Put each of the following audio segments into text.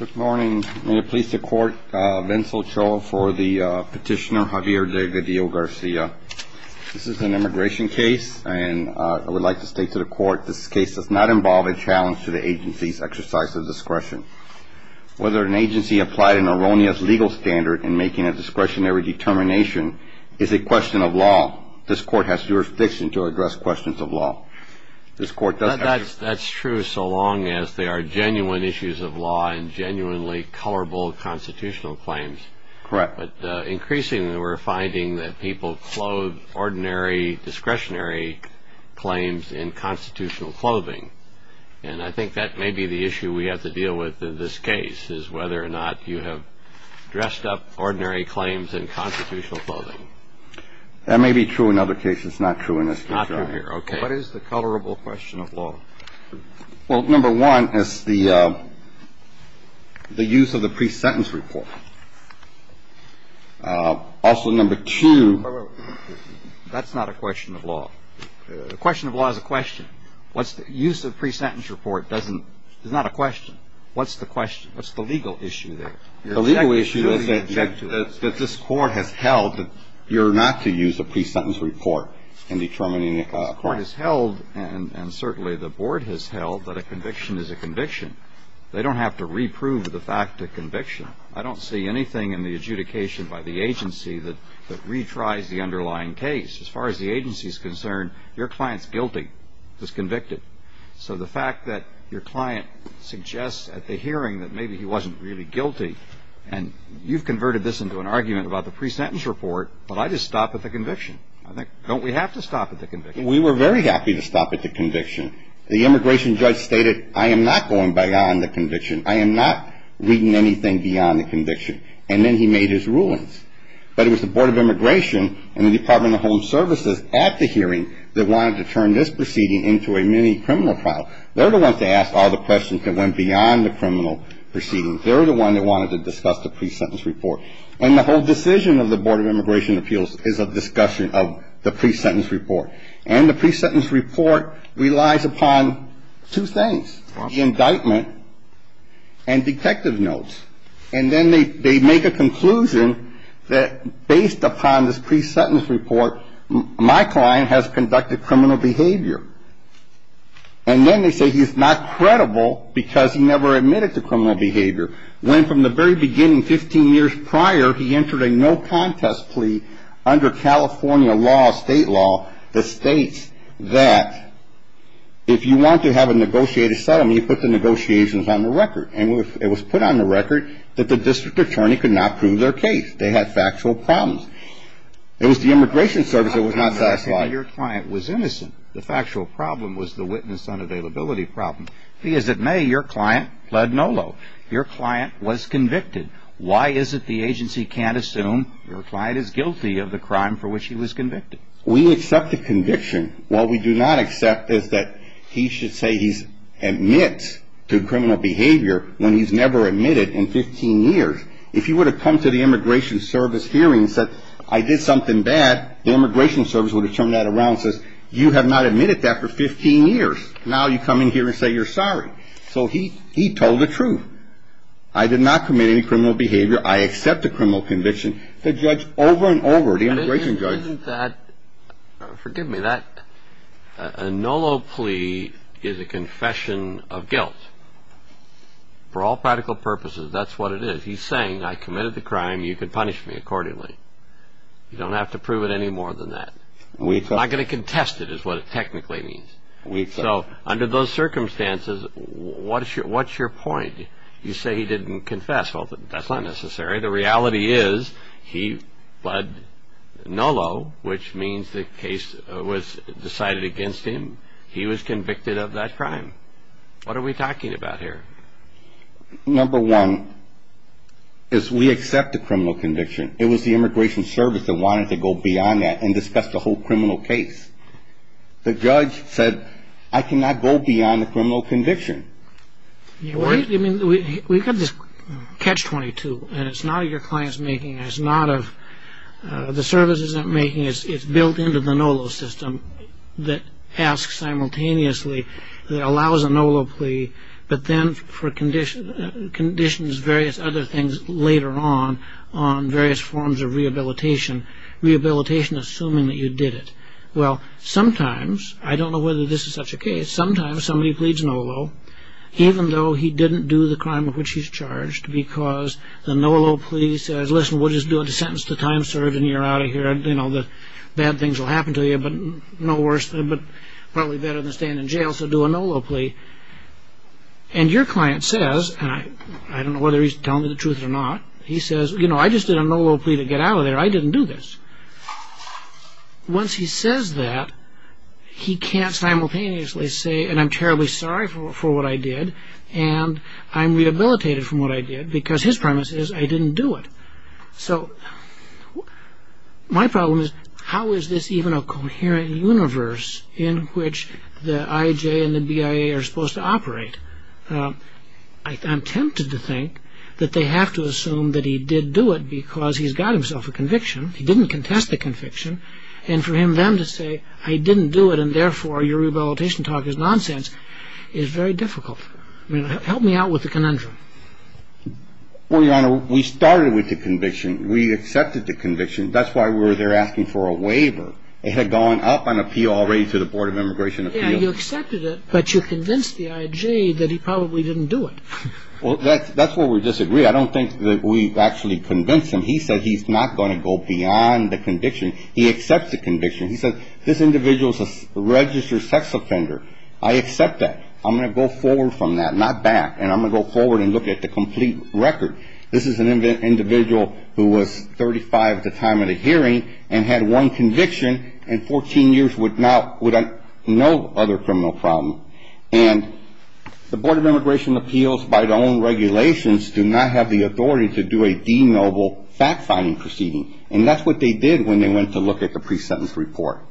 Good morning. May it please the court, Vincent Cho for the petitioner Javier Delgadillo Garcia. This is an immigration case, and I would like to state to the court this case does not involve a challenge to the agency's exercise of discretion. Whether an agency applied an erroneous legal standard in making a discretionary determination is a question of law. This court has jurisdiction to address questions of law. That's true so long as they are genuine issues of law and genuinely colorable constitutional claims. Correct. But increasingly we're finding that people clothe ordinary discretionary claims in constitutional clothing. And I think that may be the issue we have to deal with in this case, is whether or not you have dressed up ordinary claims in constitutional clothing. That may be true in other cases. It's not true in this case, either. What is the colorable question of law? Well, number one is the use of the pre-sentence report. Also, number two. That's not a question of law. The question of law is a question. Use of pre-sentence report is not a question. What's the question? What's the legal issue there? The legal issue is that this Court has held that you're not to use a pre-sentence report in determining a crime. This Court has held, and certainly the Board has held, that a conviction is a conviction. They don't have to reprove the fact of conviction. I don't see anything in the adjudication by the agency that retries the underlying case. As far as the agency is concerned, your client's guilty. He was convicted. So the fact that your client suggests at the hearing that maybe he wasn't really guilty, and you've converted this into an argument about the pre-sentence report, but I just stop at the conviction. Don't we have to stop at the conviction? We were very happy to stop at the conviction. The immigration judge stated, I am not going beyond the conviction. I am not reading anything beyond the conviction. And then he made his rulings. But it was the Board of Immigration and the Department of Home Services at the hearing that wanted to turn this proceeding into a mini-criminal trial. They're the ones that asked all the questions that went beyond the criminal proceedings. They're the ones that wanted to discuss the pre-sentence report. And the whole decision of the Board of Immigration and Appeals is a discussion of the pre-sentence report. And the pre-sentence report relies upon two things, the indictment and detective notes. And then they make a conclusion that based upon this pre-sentence report, my client has conducted criminal behavior. And then they say he's not credible because he never admitted to criminal behavior. When from the very beginning, 15 years prior, he entered a no contest plea under California law, state law, that states that if you want to have a negotiated settlement, you put the negotiations on the record. And it was put on the record that the district attorney could not prove their case. They had factual problems. It was the Immigration Service that was not satisfied. Your client was innocent. The factual problem was the witness unavailability problem. Be as it may, your client pled nolo. Your client was convicted. Why is it the agency can't assume your client is guilty of the crime for which he was convicted? We accept the conviction. What we do not accept is that he should say he admits to criminal behavior when he's never admitted in 15 years. If he would have come to the Immigration Service hearing and said I did something bad, the Immigration Service would have turned that around and said you have not admitted that for 15 years. Now you come in here and say you're sorry. So he told the truth. I did not commit any criminal behavior. I accept the criminal conviction. The judge over and over, the immigration judge. Forgive me. A nolo plea is a confession of guilt. For all practical purposes, that's what it is. He's saying I committed the crime. You can punish me accordingly. You don't have to prove it any more than that. Not going to contest it is what it technically means. So under those circumstances, what's your point? You say he didn't confess. Well, that's not necessary. The reality is he pled nolo, which means the case was decided against him. He was convicted of that crime. What are we talking about here? Number one is we accept the criminal conviction. It was the Immigration Service that wanted to go beyond that and discuss the whole criminal case. The judge said I cannot go beyond the criminal conviction. We've got this catch-22, and it's not of your client's making. It's not of the service's making. It's built into the nolo system that asks simultaneously, that allows a nolo plea, but then conditions various other things later on on various forms of rehabilitation, rehabilitation assuming that you did it. Well, sometimes, I don't know whether this is such a case, but sometimes somebody pleads nolo even though he didn't do the crime of which he's charged because the nolo plea says, listen, we'll just do a sentence to time served, and you're out of here, and bad things will happen to you, but probably better than staying in jail, so do a nolo plea. And your client says, and I don't know whether he's telling the truth or not, he says, you know, I just did a nolo plea to get out of there. I didn't do this. Once he says that, he can't simultaneously say, and I'm terribly sorry for what I did, and I'm rehabilitated from what I did because his premise is, I didn't do it. So my problem is, how is this even a coherent universe in which the IJ and the BIA are supposed to operate? I'm tempted to think that they have to assume that he did do it because he's got himself a conviction. He didn't contest the conviction, and for them to say, I didn't do it, and therefore your rehabilitation talk is nonsense is very difficult. I mean, help me out with the conundrum. Well, Your Honor, we started with the conviction. We accepted the conviction. That's why we were there asking for a waiver. It had gone up on appeal already to the Board of Immigration Appeals. Yeah, you accepted it, but you convinced the IJ that he probably didn't do it. Well, that's where we disagree. I don't think that we've actually convinced him. He said he's not going to go beyond the conviction. He accepts the conviction. He said, this individual is a registered sex offender. I accept that. I'm going to go forward from that, not back, and I'm going to go forward and look at the complete record. This is an individual who was 35 at the time of the hearing and had one conviction and 14 years without no other criminal problem. And the Board of Immigration Appeals, by their own regulations, do not have the authority to do a denoble fact-finding proceeding. And that's what they did when they went to look at the pre-sentence report.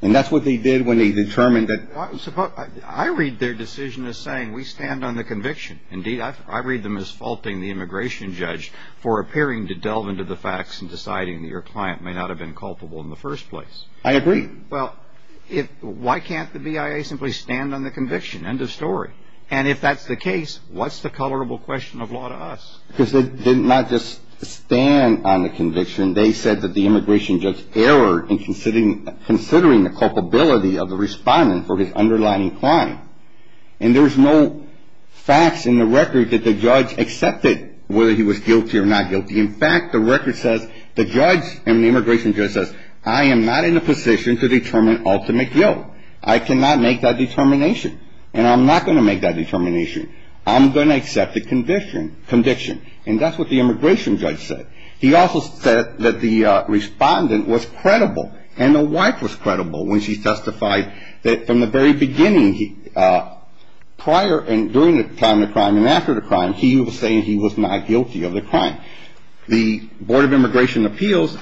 And that's what they did when they determined that they were not guilty. I read their decision as saying, we stand on the conviction. Indeed, I read them as faulting the immigration judge for appearing to delve into the facts and deciding that your client may not have been culpable in the first place. I agree. Well, why can't the BIA simply stand on the conviction? End of story. And if that's the case, what's the colorable question of law to us? Because they did not just stand on the conviction. They said that the immigration judge erred in considering the culpability of the respondent for his underlying crime. And there was no facts in the record that the judge accepted whether he was guilty or not guilty. In fact, the record says the judge and the immigration judge says, I am not in a position to determine ultimate guilt. I cannot make that determination. And I'm not going to make that determination. I'm going to accept the conviction. And that's what the immigration judge said. He also said that the respondent was credible. And the wife was credible when she testified that from the very beginning, prior and during the time of the crime and after the crime, he was saying he was not guilty of the crime. The Board of Immigration Appeals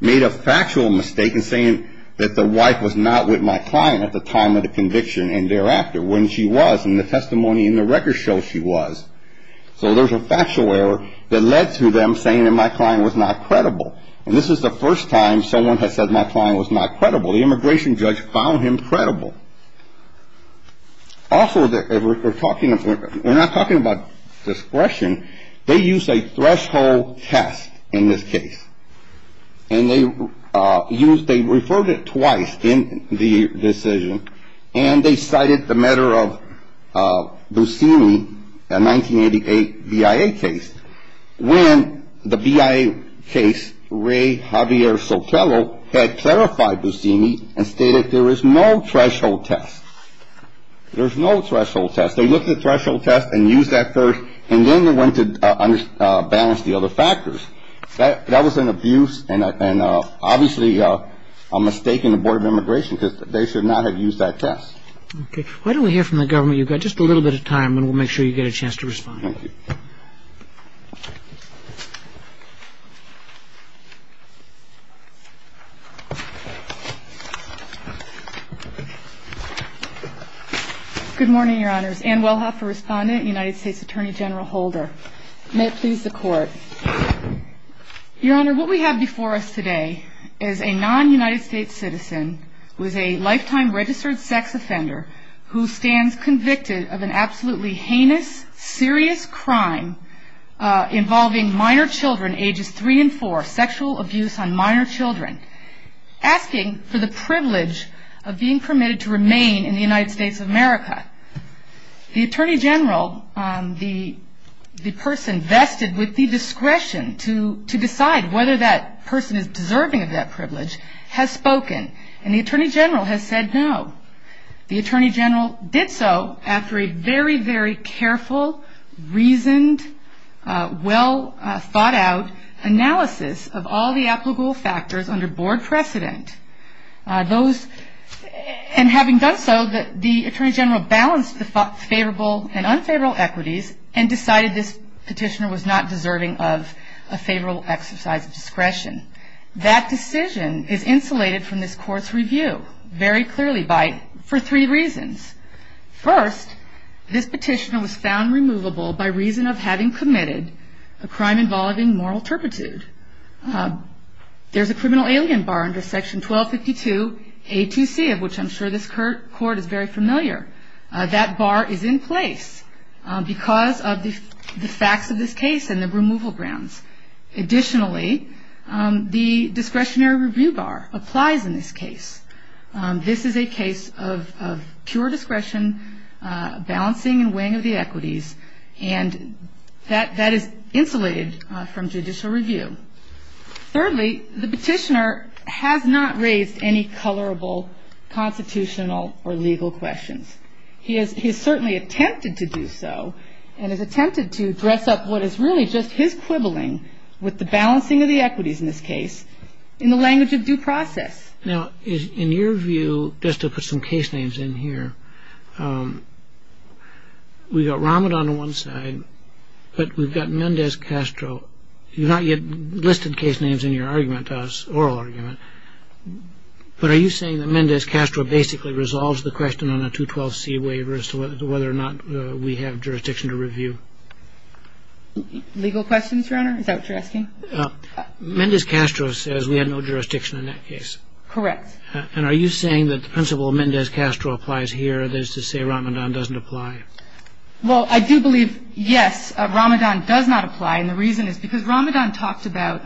made a factual mistake in saying that the wife was not with my client at the time of the conviction and thereafter when she was, and the testimony in the record shows she was. So there's a factual error that led to them saying that my client was not credible. And this is the first time someone has said my client was not credible. The immigration judge found him credible. Also, we're not talking about discretion. They used a threshold test in this case. And they referred it twice in the decision. And they cited the matter of Busini, a 1988 BIA case, when the BIA case, Ray Javier Sotelo, had clarified Busini and stated there is no threshold test. There's no threshold test. They looked at the threshold test and used that first, and then they went to balance the other factors. That was an abuse and obviously a mistake in the Board of Immigration because they should not have used that test. Okay. Why don't we hear from the government? You've got just a little bit of time, and we'll make sure you get a chance to respond. Good morning, Your Honors. Ann Wellhoffer, respondent, United States Attorney General Holder. May it please the Court. Your Honor, what we have before us today is a non-United States citizen who is a lifetime registered sex offender who stands convicted of an absolutely heinous, serious crime involving minor children, ages three and four, sexual abuse on minor children, asking for the privilege of being permitted to remain in the United States of America. The Attorney General, the person vested with the discretion to decide whether that person is deserving of that privilege, has spoken, and the Attorney General has said no. The Attorney General did so after a very, very careful, reasoned, well-thought-out analysis of all the applicable factors under Board precedent. And having done so, the Attorney General balanced the favorable and unfavorable equities and decided this petitioner was not deserving of a favorable exercise of discretion. That decision is insulated from this Court's review, very clearly, for three reasons. First, this petitioner was found removable by reason of having committed a crime involving moral turpitude. There's a criminal alien bar under Section 1252 A2C, of which I'm sure this Court is very familiar. That bar is in place because of the facts of this case and the removal grounds. Additionally, the discretionary review bar applies in this case. This is a case of pure discretion, balancing and weighing of the equities, and that is insulated from judicial review. Thirdly, the petitioner has not raised any colorable constitutional or legal questions. He has certainly attempted to do so and has attempted to dress up what is really just his quibbling with the balancing of the equities in this case in the language of due process. Now, in your view, just to put some case names in here, we've got Rahmat on one side, but we've got Mendez-Castro. You've not yet listed case names in your argument to us, oral argument, but are you saying that Mendez-Castro basically resolves the question on a 212C waiver as to whether or not we have jurisdiction to review? Legal questions, Your Honor? Is that what you're asking? Mendez-Castro says we have no jurisdiction in that case. Correct. And are you saying that the principle of Mendez-Castro applies here, that is to say Rahmatan doesn't apply? Well, I do believe, yes, Rahmatan does not apply, and the reason is because Rahmatan talked about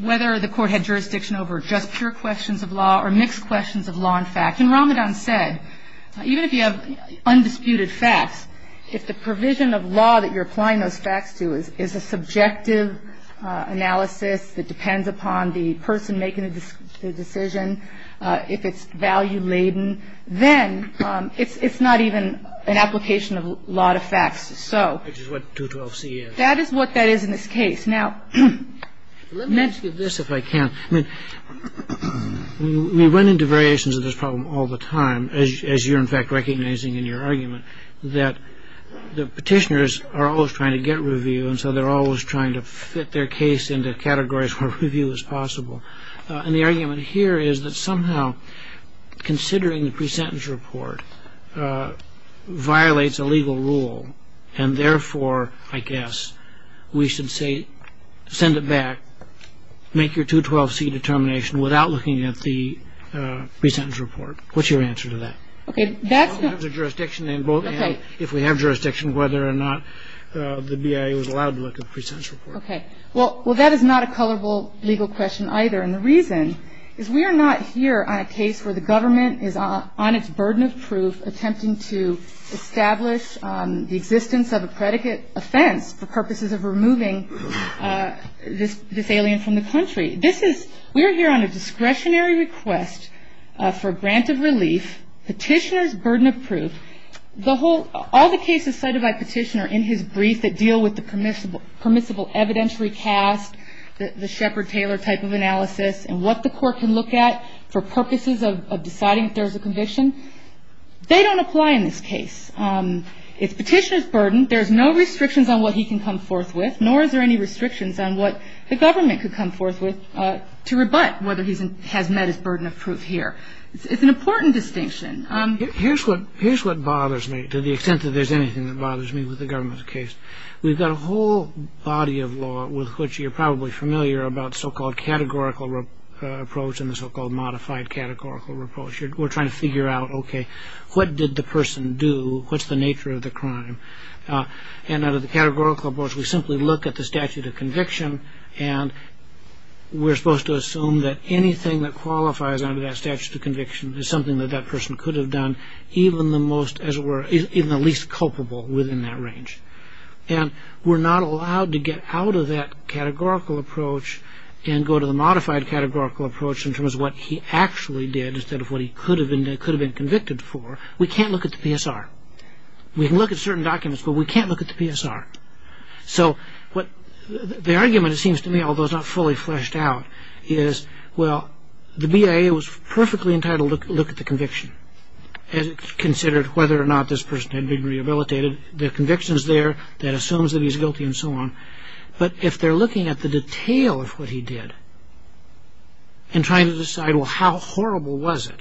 whether the court had jurisdiction over just pure questions of law or mixed questions of law and fact. And Rahmatan said even if you have undisputed facts, if the provision of law that you're applying those facts to is a subjective analysis that depends upon the person making the decision, if it's value-laden, then it's not even an application of law to facts. Which is what 212C is. That is what that is in this case. Now, let me ask you this, if I can. I mean, we run into variations of this problem all the time, as you're in fact recognizing in your argument, that the Petitioners are always trying to get review and so they're always trying to fit their case into categories where review is possible. And the argument here is that somehow considering the pre-sentence report violates a legal rule and therefore, I guess, we should say, send it back, make your 212C determination without looking at the pre-sentence report. What's your answer to that? Okay, that's not. If we have jurisdiction whether or not the BIA was allowed to look at the pre-sentence report. Okay. Well, that is not a colorable legal question either. And the reason is we are not here on a case where the government is on its burden of proof attempting to establish the existence of a predicate offense for purposes of removing this alien from the country. This is, we are here on a discretionary request for grant of relief, Petitioner's burden of proof. All the cases cited by Petitioner in his brief that deal with the permissible evidentiary cast, the Shepard-Taylor type of analysis and what the court can look at for purposes of deciding if there's a conviction, they don't apply in this case. It's Petitioner's burden. There's no restrictions on what he can come forth with, nor is there any restrictions on what the government could come forth with to rebut whether he has met his burden of proof here. It's an important distinction. Here's what bothers me to the extent that there's anything that bothers me with the government's case. We've got a whole body of law with which you're probably familiar about so-called categorical approach and the so-called modified categorical approach. We're trying to figure out, okay, what did the person do? What's the nature of the crime? And out of the categorical approach, we simply look at the statute of conviction and we're supposed to assume that anything that qualifies under that statute of conviction is something that that person could have done, even the least culpable within that range. And we're not allowed to get out of that categorical approach and go to the modified categorical approach in terms of what he actually did instead of what he could have been convicted for. We can't look at the PSR. We can look at certain documents, but we can't look at the PSR. So the argument, it seems to me, although it's not fully fleshed out, is, well, the BIA was perfectly entitled to look at the conviction and consider whether or not this person had been rehabilitated. The conviction's there. That assumes that he's guilty and so on. But if they're looking at the detail of what he did and trying to decide, well, how horrible was it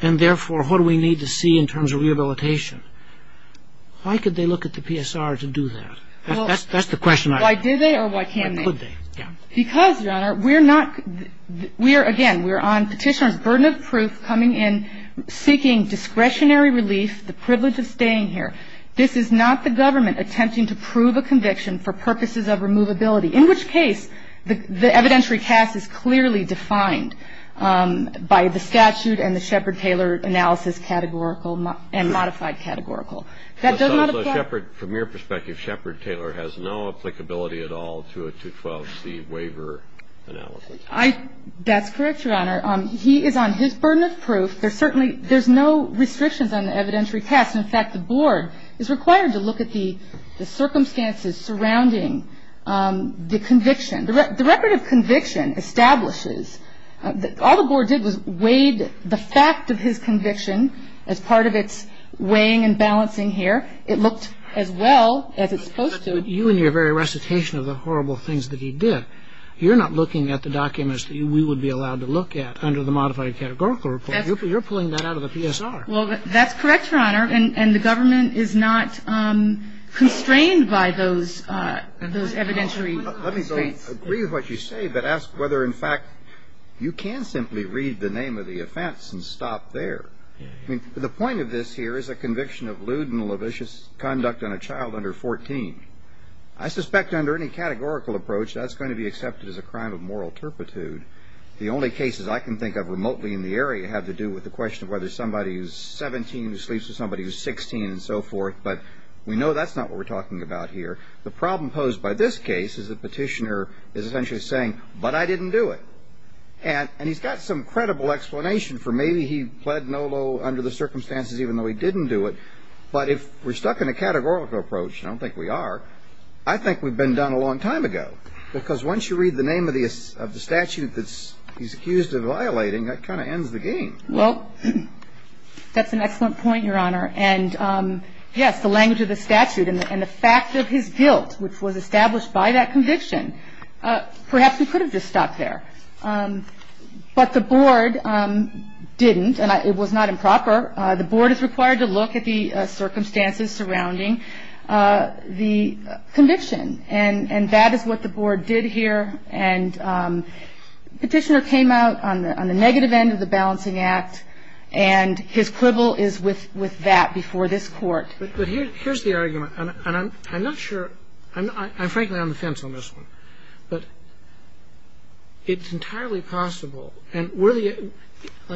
and, therefore, what do we need to see in terms of rehabilitation, why could they look at the PSR to do that? That's the question. Why did they or why can't they? Why could they, yeah. Because, Your Honor, we're not, we are, again, we're on Petitioner's burden of proof, coming in seeking discretionary relief, the privilege of staying here. This is not the government attempting to prove a conviction for purposes of removability, in which case the evidentiary cast is clearly defined by the statute and the Shepard-Taylor analysis categorical and modified categorical. That does not apply. So Shepard, from your perspective, Shepard-Taylor has no applicability at all to a 212C waiver analysis? I, that's correct, Your Honor. He is on his burden of proof. There's certainly, there's no restrictions on the evidentiary cast. In fact, the Board is required to look at the circumstances surrounding the conviction. The record of conviction establishes that all the Board did was weighed the fact of his conviction as part of its weighing and balancing here. It looked as well as it's supposed to. But you in your very recitation of the horrible things that he did, you're not looking at the documents that we would be allowed to look at under the modified categorical report. You're pulling that out of the PSR. Well, that's correct, Your Honor. And the government is not constrained by those evidentiary states. Let me agree with what you say, but ask whether, in fact, you can simply read the name of the offense and stop there. I mean, the point of this here is a conviction of lewd and lavish conduct on a child under 14. I suspect under any categorical approach, that's going to be accepted as a crime of moral turpitude. The only cases I can think of remotely in the area have to do with the question of whether somebody who's 17 who sleeps with somebody who's 16 and so forth. But we know that's not what we're talking about here. The problem posed by this case is the petitioner is essentially saying, but I didn't do it. And he's got some credible explanation for maybe he pled no low under the circumstances, even though he didn't do it. But if we're stuck in a categorical approach, and I don't think we are, I think we've been done a long time ago. Because once you read the name of the statute that he's accused of violating, that kind of ends the game. Well, that's an excellent point, Your Honor. And, yes, the language of the statute and the fact of his guilt, which was established by that conviction, perhaps we could have just stopped there. But the Board didn't, and it was not improper. The Board is required to look at the circumstances surrounding the conviction. And that is what the Board did here. And the petitioner came out on the negative end of the balancing act. And his quibble is with that before this Court. But here's the argument. And I'm not sure. I'm frankly on the fence on this one. But it's entirely possible. And let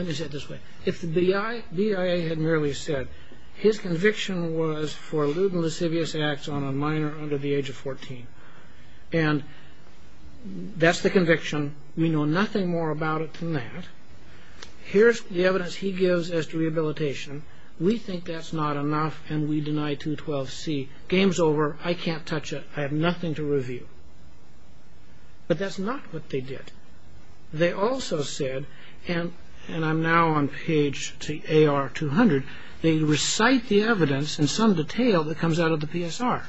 me say it this way. If the BIA had merely said his conviction was for lewd and lascivious acts on a minor under the age of 14, and that's the conviction, we know nothing more about it than that. Here's the evidence he gives as to rehabilitation. We think that's not enough, and we deny 212C. Game's over. I can't touch it. I have nothing to review. But that's not what they did. They also said, and I'm now on page AR200, they recite the evidence in some detail that comes out of the PSR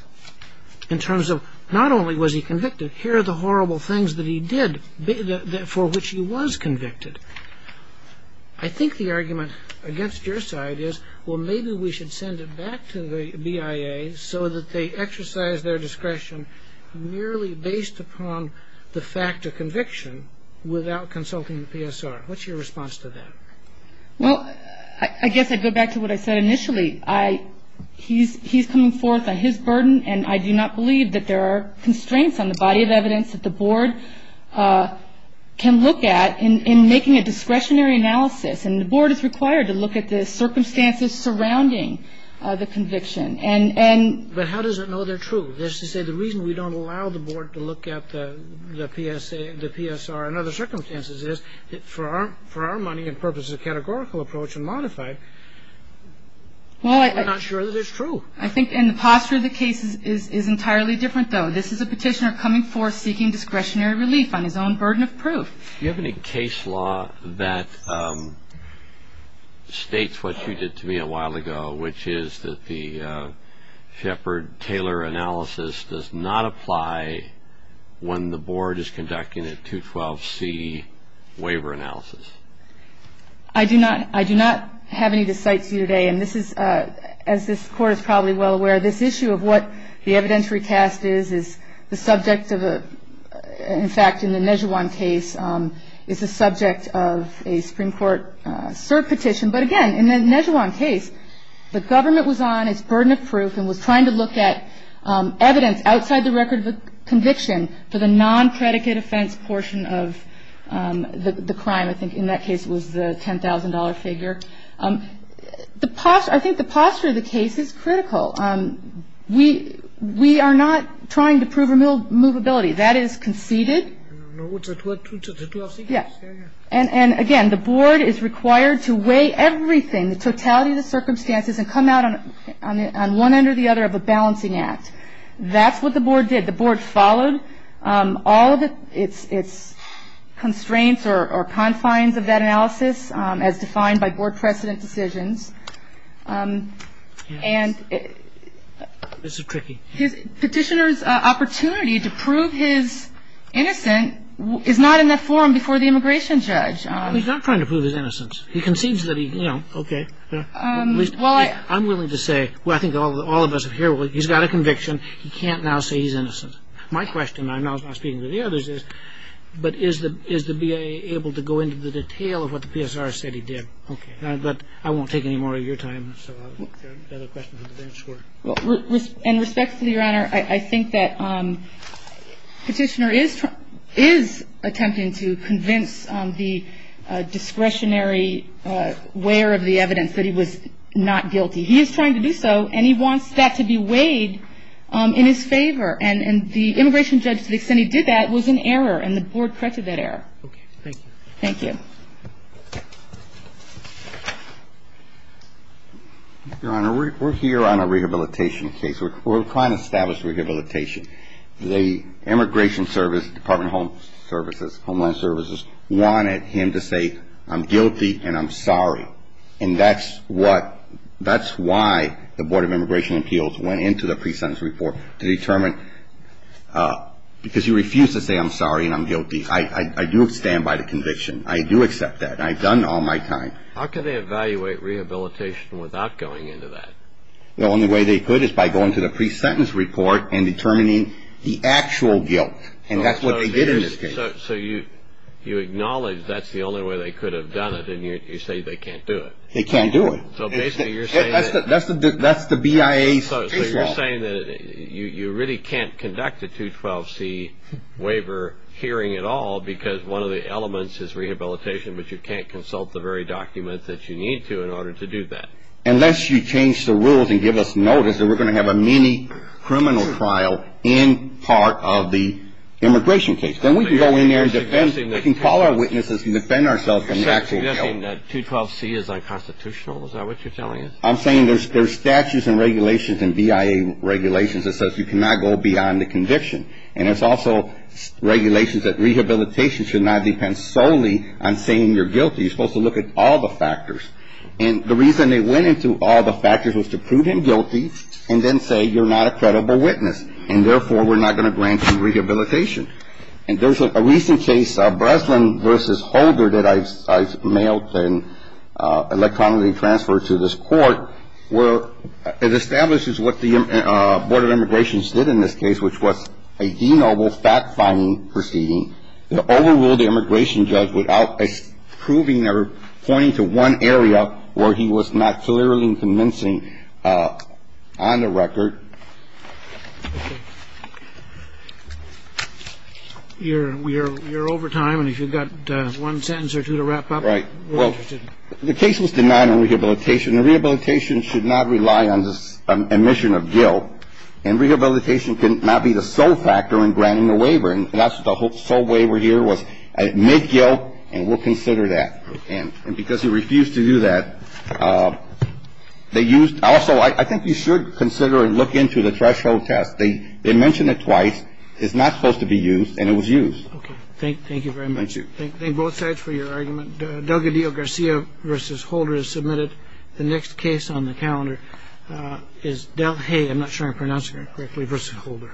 in terms of not only was he convicted, here are the horrible things that he did for which he was convicted. I think the argument against your side is, well, maybe we should send it back to the BIA so that they exercise their discretion merely based upon the fact of conviction without consulting the PSR. What's your response to that? Well, I guess I'd go back to what I said initially. He's coming forth on his burden, and I do not believe that there are constraints on the body of evidence that the Board can look at in making a discretionary analysis. And the Board is required to look at the circumstances surrounding the conviction. But how does it know they're true? That's to say, the reason we don't allow the Board to look at the PSR and other circumstances is, for our money and purposes of categorical approach and modified, we're not sure that it's true. I think the posture of the case is entirely different, though. This is a petitioner coming forth seeking discretionary relief on his own burden of proof. Do you have any case law that states what you did to me a while ago, which is that the Shepard-Taylor analysis does not apply when the Board is conducting a 212C waiver analysis? I do not have any to cite to you today. And this is, as this Court is probably well aware, this issue of what the evidentiary cast is is the subject of a, in fact, in the Nezhawan case, is the subject of a Supreme Court cert petition. But again, in the Nezhawan case, the government was on its burden of proof and was trying to look at evidence outside the record of a conviction for the non-predicate offense portion of the crime. I think in that case it was the $10,000 figure. I think the posture of the case is critical. We are not trying to prove immovability. That is conceded. And again, the Board is required to weigh everything, the totality of the circumstances, and come out on one end or the other of a balancing act. That's what the Board did. The Board followed all of its constraints or confines of that analysis, as defined by Board precedent decisions. And petitioner's opportunity to prove his innocence is not in that forum before the immigration judge. He's not trying to prove his innocence. He concedes that he, you know, okay. I'm willing to say, well, I think all of us here, he's got a conviction. He can't now say he's innocent. My question, and I'm not speaking to the others, is, but is the BIA able to go into the detail of what the PSR said he did? Okay. But I won't take any more of your time, so I'll let the other questions advance. Sure. In respect to the Honor, I think that petitioner is attempting to convince the discretionary wearer of the evidence that he was not guilty. He is trying to do so, and he wants that to be weighed in his favor. And the immigration judge, to the extent he did that, was in error, and the Board corrected that error. Okay. Thank you. Thank you. Your Honor, we're here on a rehabilitation case. We're trying to establish rehabilitation. The Immigration Service, Department of Home Services, Homeland Services, wanted him to say, I'm guilty and I'm sorry. And that's why the Board of Immigration Appeals went into the pre-sentence report, to determine, because he refused to say, I'm sorry and I'm guilty. I do stand by the conviction. I do accept that. I've done all my time. How can they evaluate rehabilitation without going into that? The only way they could is by going to the pre-sentence report and determining the actual guilt, and that's what they did in this case. So you acknowledge that's the only way they could have done it, and you say they can't do it. They can't do it. So basically you're saying that you really can't conduct a 212C waiver hearing at all, because one of the elements is rehabilitation, but you can't consult the very documents that you need to in order to do that. Unless you change the rules and give us notice that we're going to have a mini-criminal trial in part of the immigration case. Then we can go in there and defend. We can call our witnesses and defend ourselves from the actual guilt. So you're saying that 212C is unconstitutional? Is that what you're telling us? I'm saying there's statutes and regulations and BIA regulations that says you cannot go beyond the conviction. And there's also regulations that rehabilitation should not depend solely on saying you're guilty. You're supposed to look at all the factors. And the reason they went into all the factors was to prove him guilty and then say you're not a credible witness, and therefore we're not going to grant you rehabilitation. And there's a recent case, Breslin v. Holder, that I mailed and electronically transferred to this Court, where it establishes what the Board of Immigrations did in this case, which was a denoble fact-finding proceeding. They overruled the immigration judge without proving or pointing to one area where he was not clearly convincing on the record. You're over time, and if you've got one sentence or two to wrap up, we're interested. Right. Well, the case was denied on rehabilitation. Rehabilitation should not rely on this omission of guilt. And rehabilitation cannot be the sole factor in granting a waiver. And that's what the whole sole waiver here was, admit guilt and we'll consider that. And because he refused to do that, they used also ‑‑ I think you should consider and look into the threshold test. They mentioned it twice. It's not supposed to be used, and it was used. Okay. Thank you very much. Thank you. Thank both sides for your argument. Delgadillo-Garcia v. Holder is submitted. The next case on the calendar is Delhay, I'm not sure I'm pronouncing it correctly, v. Holder.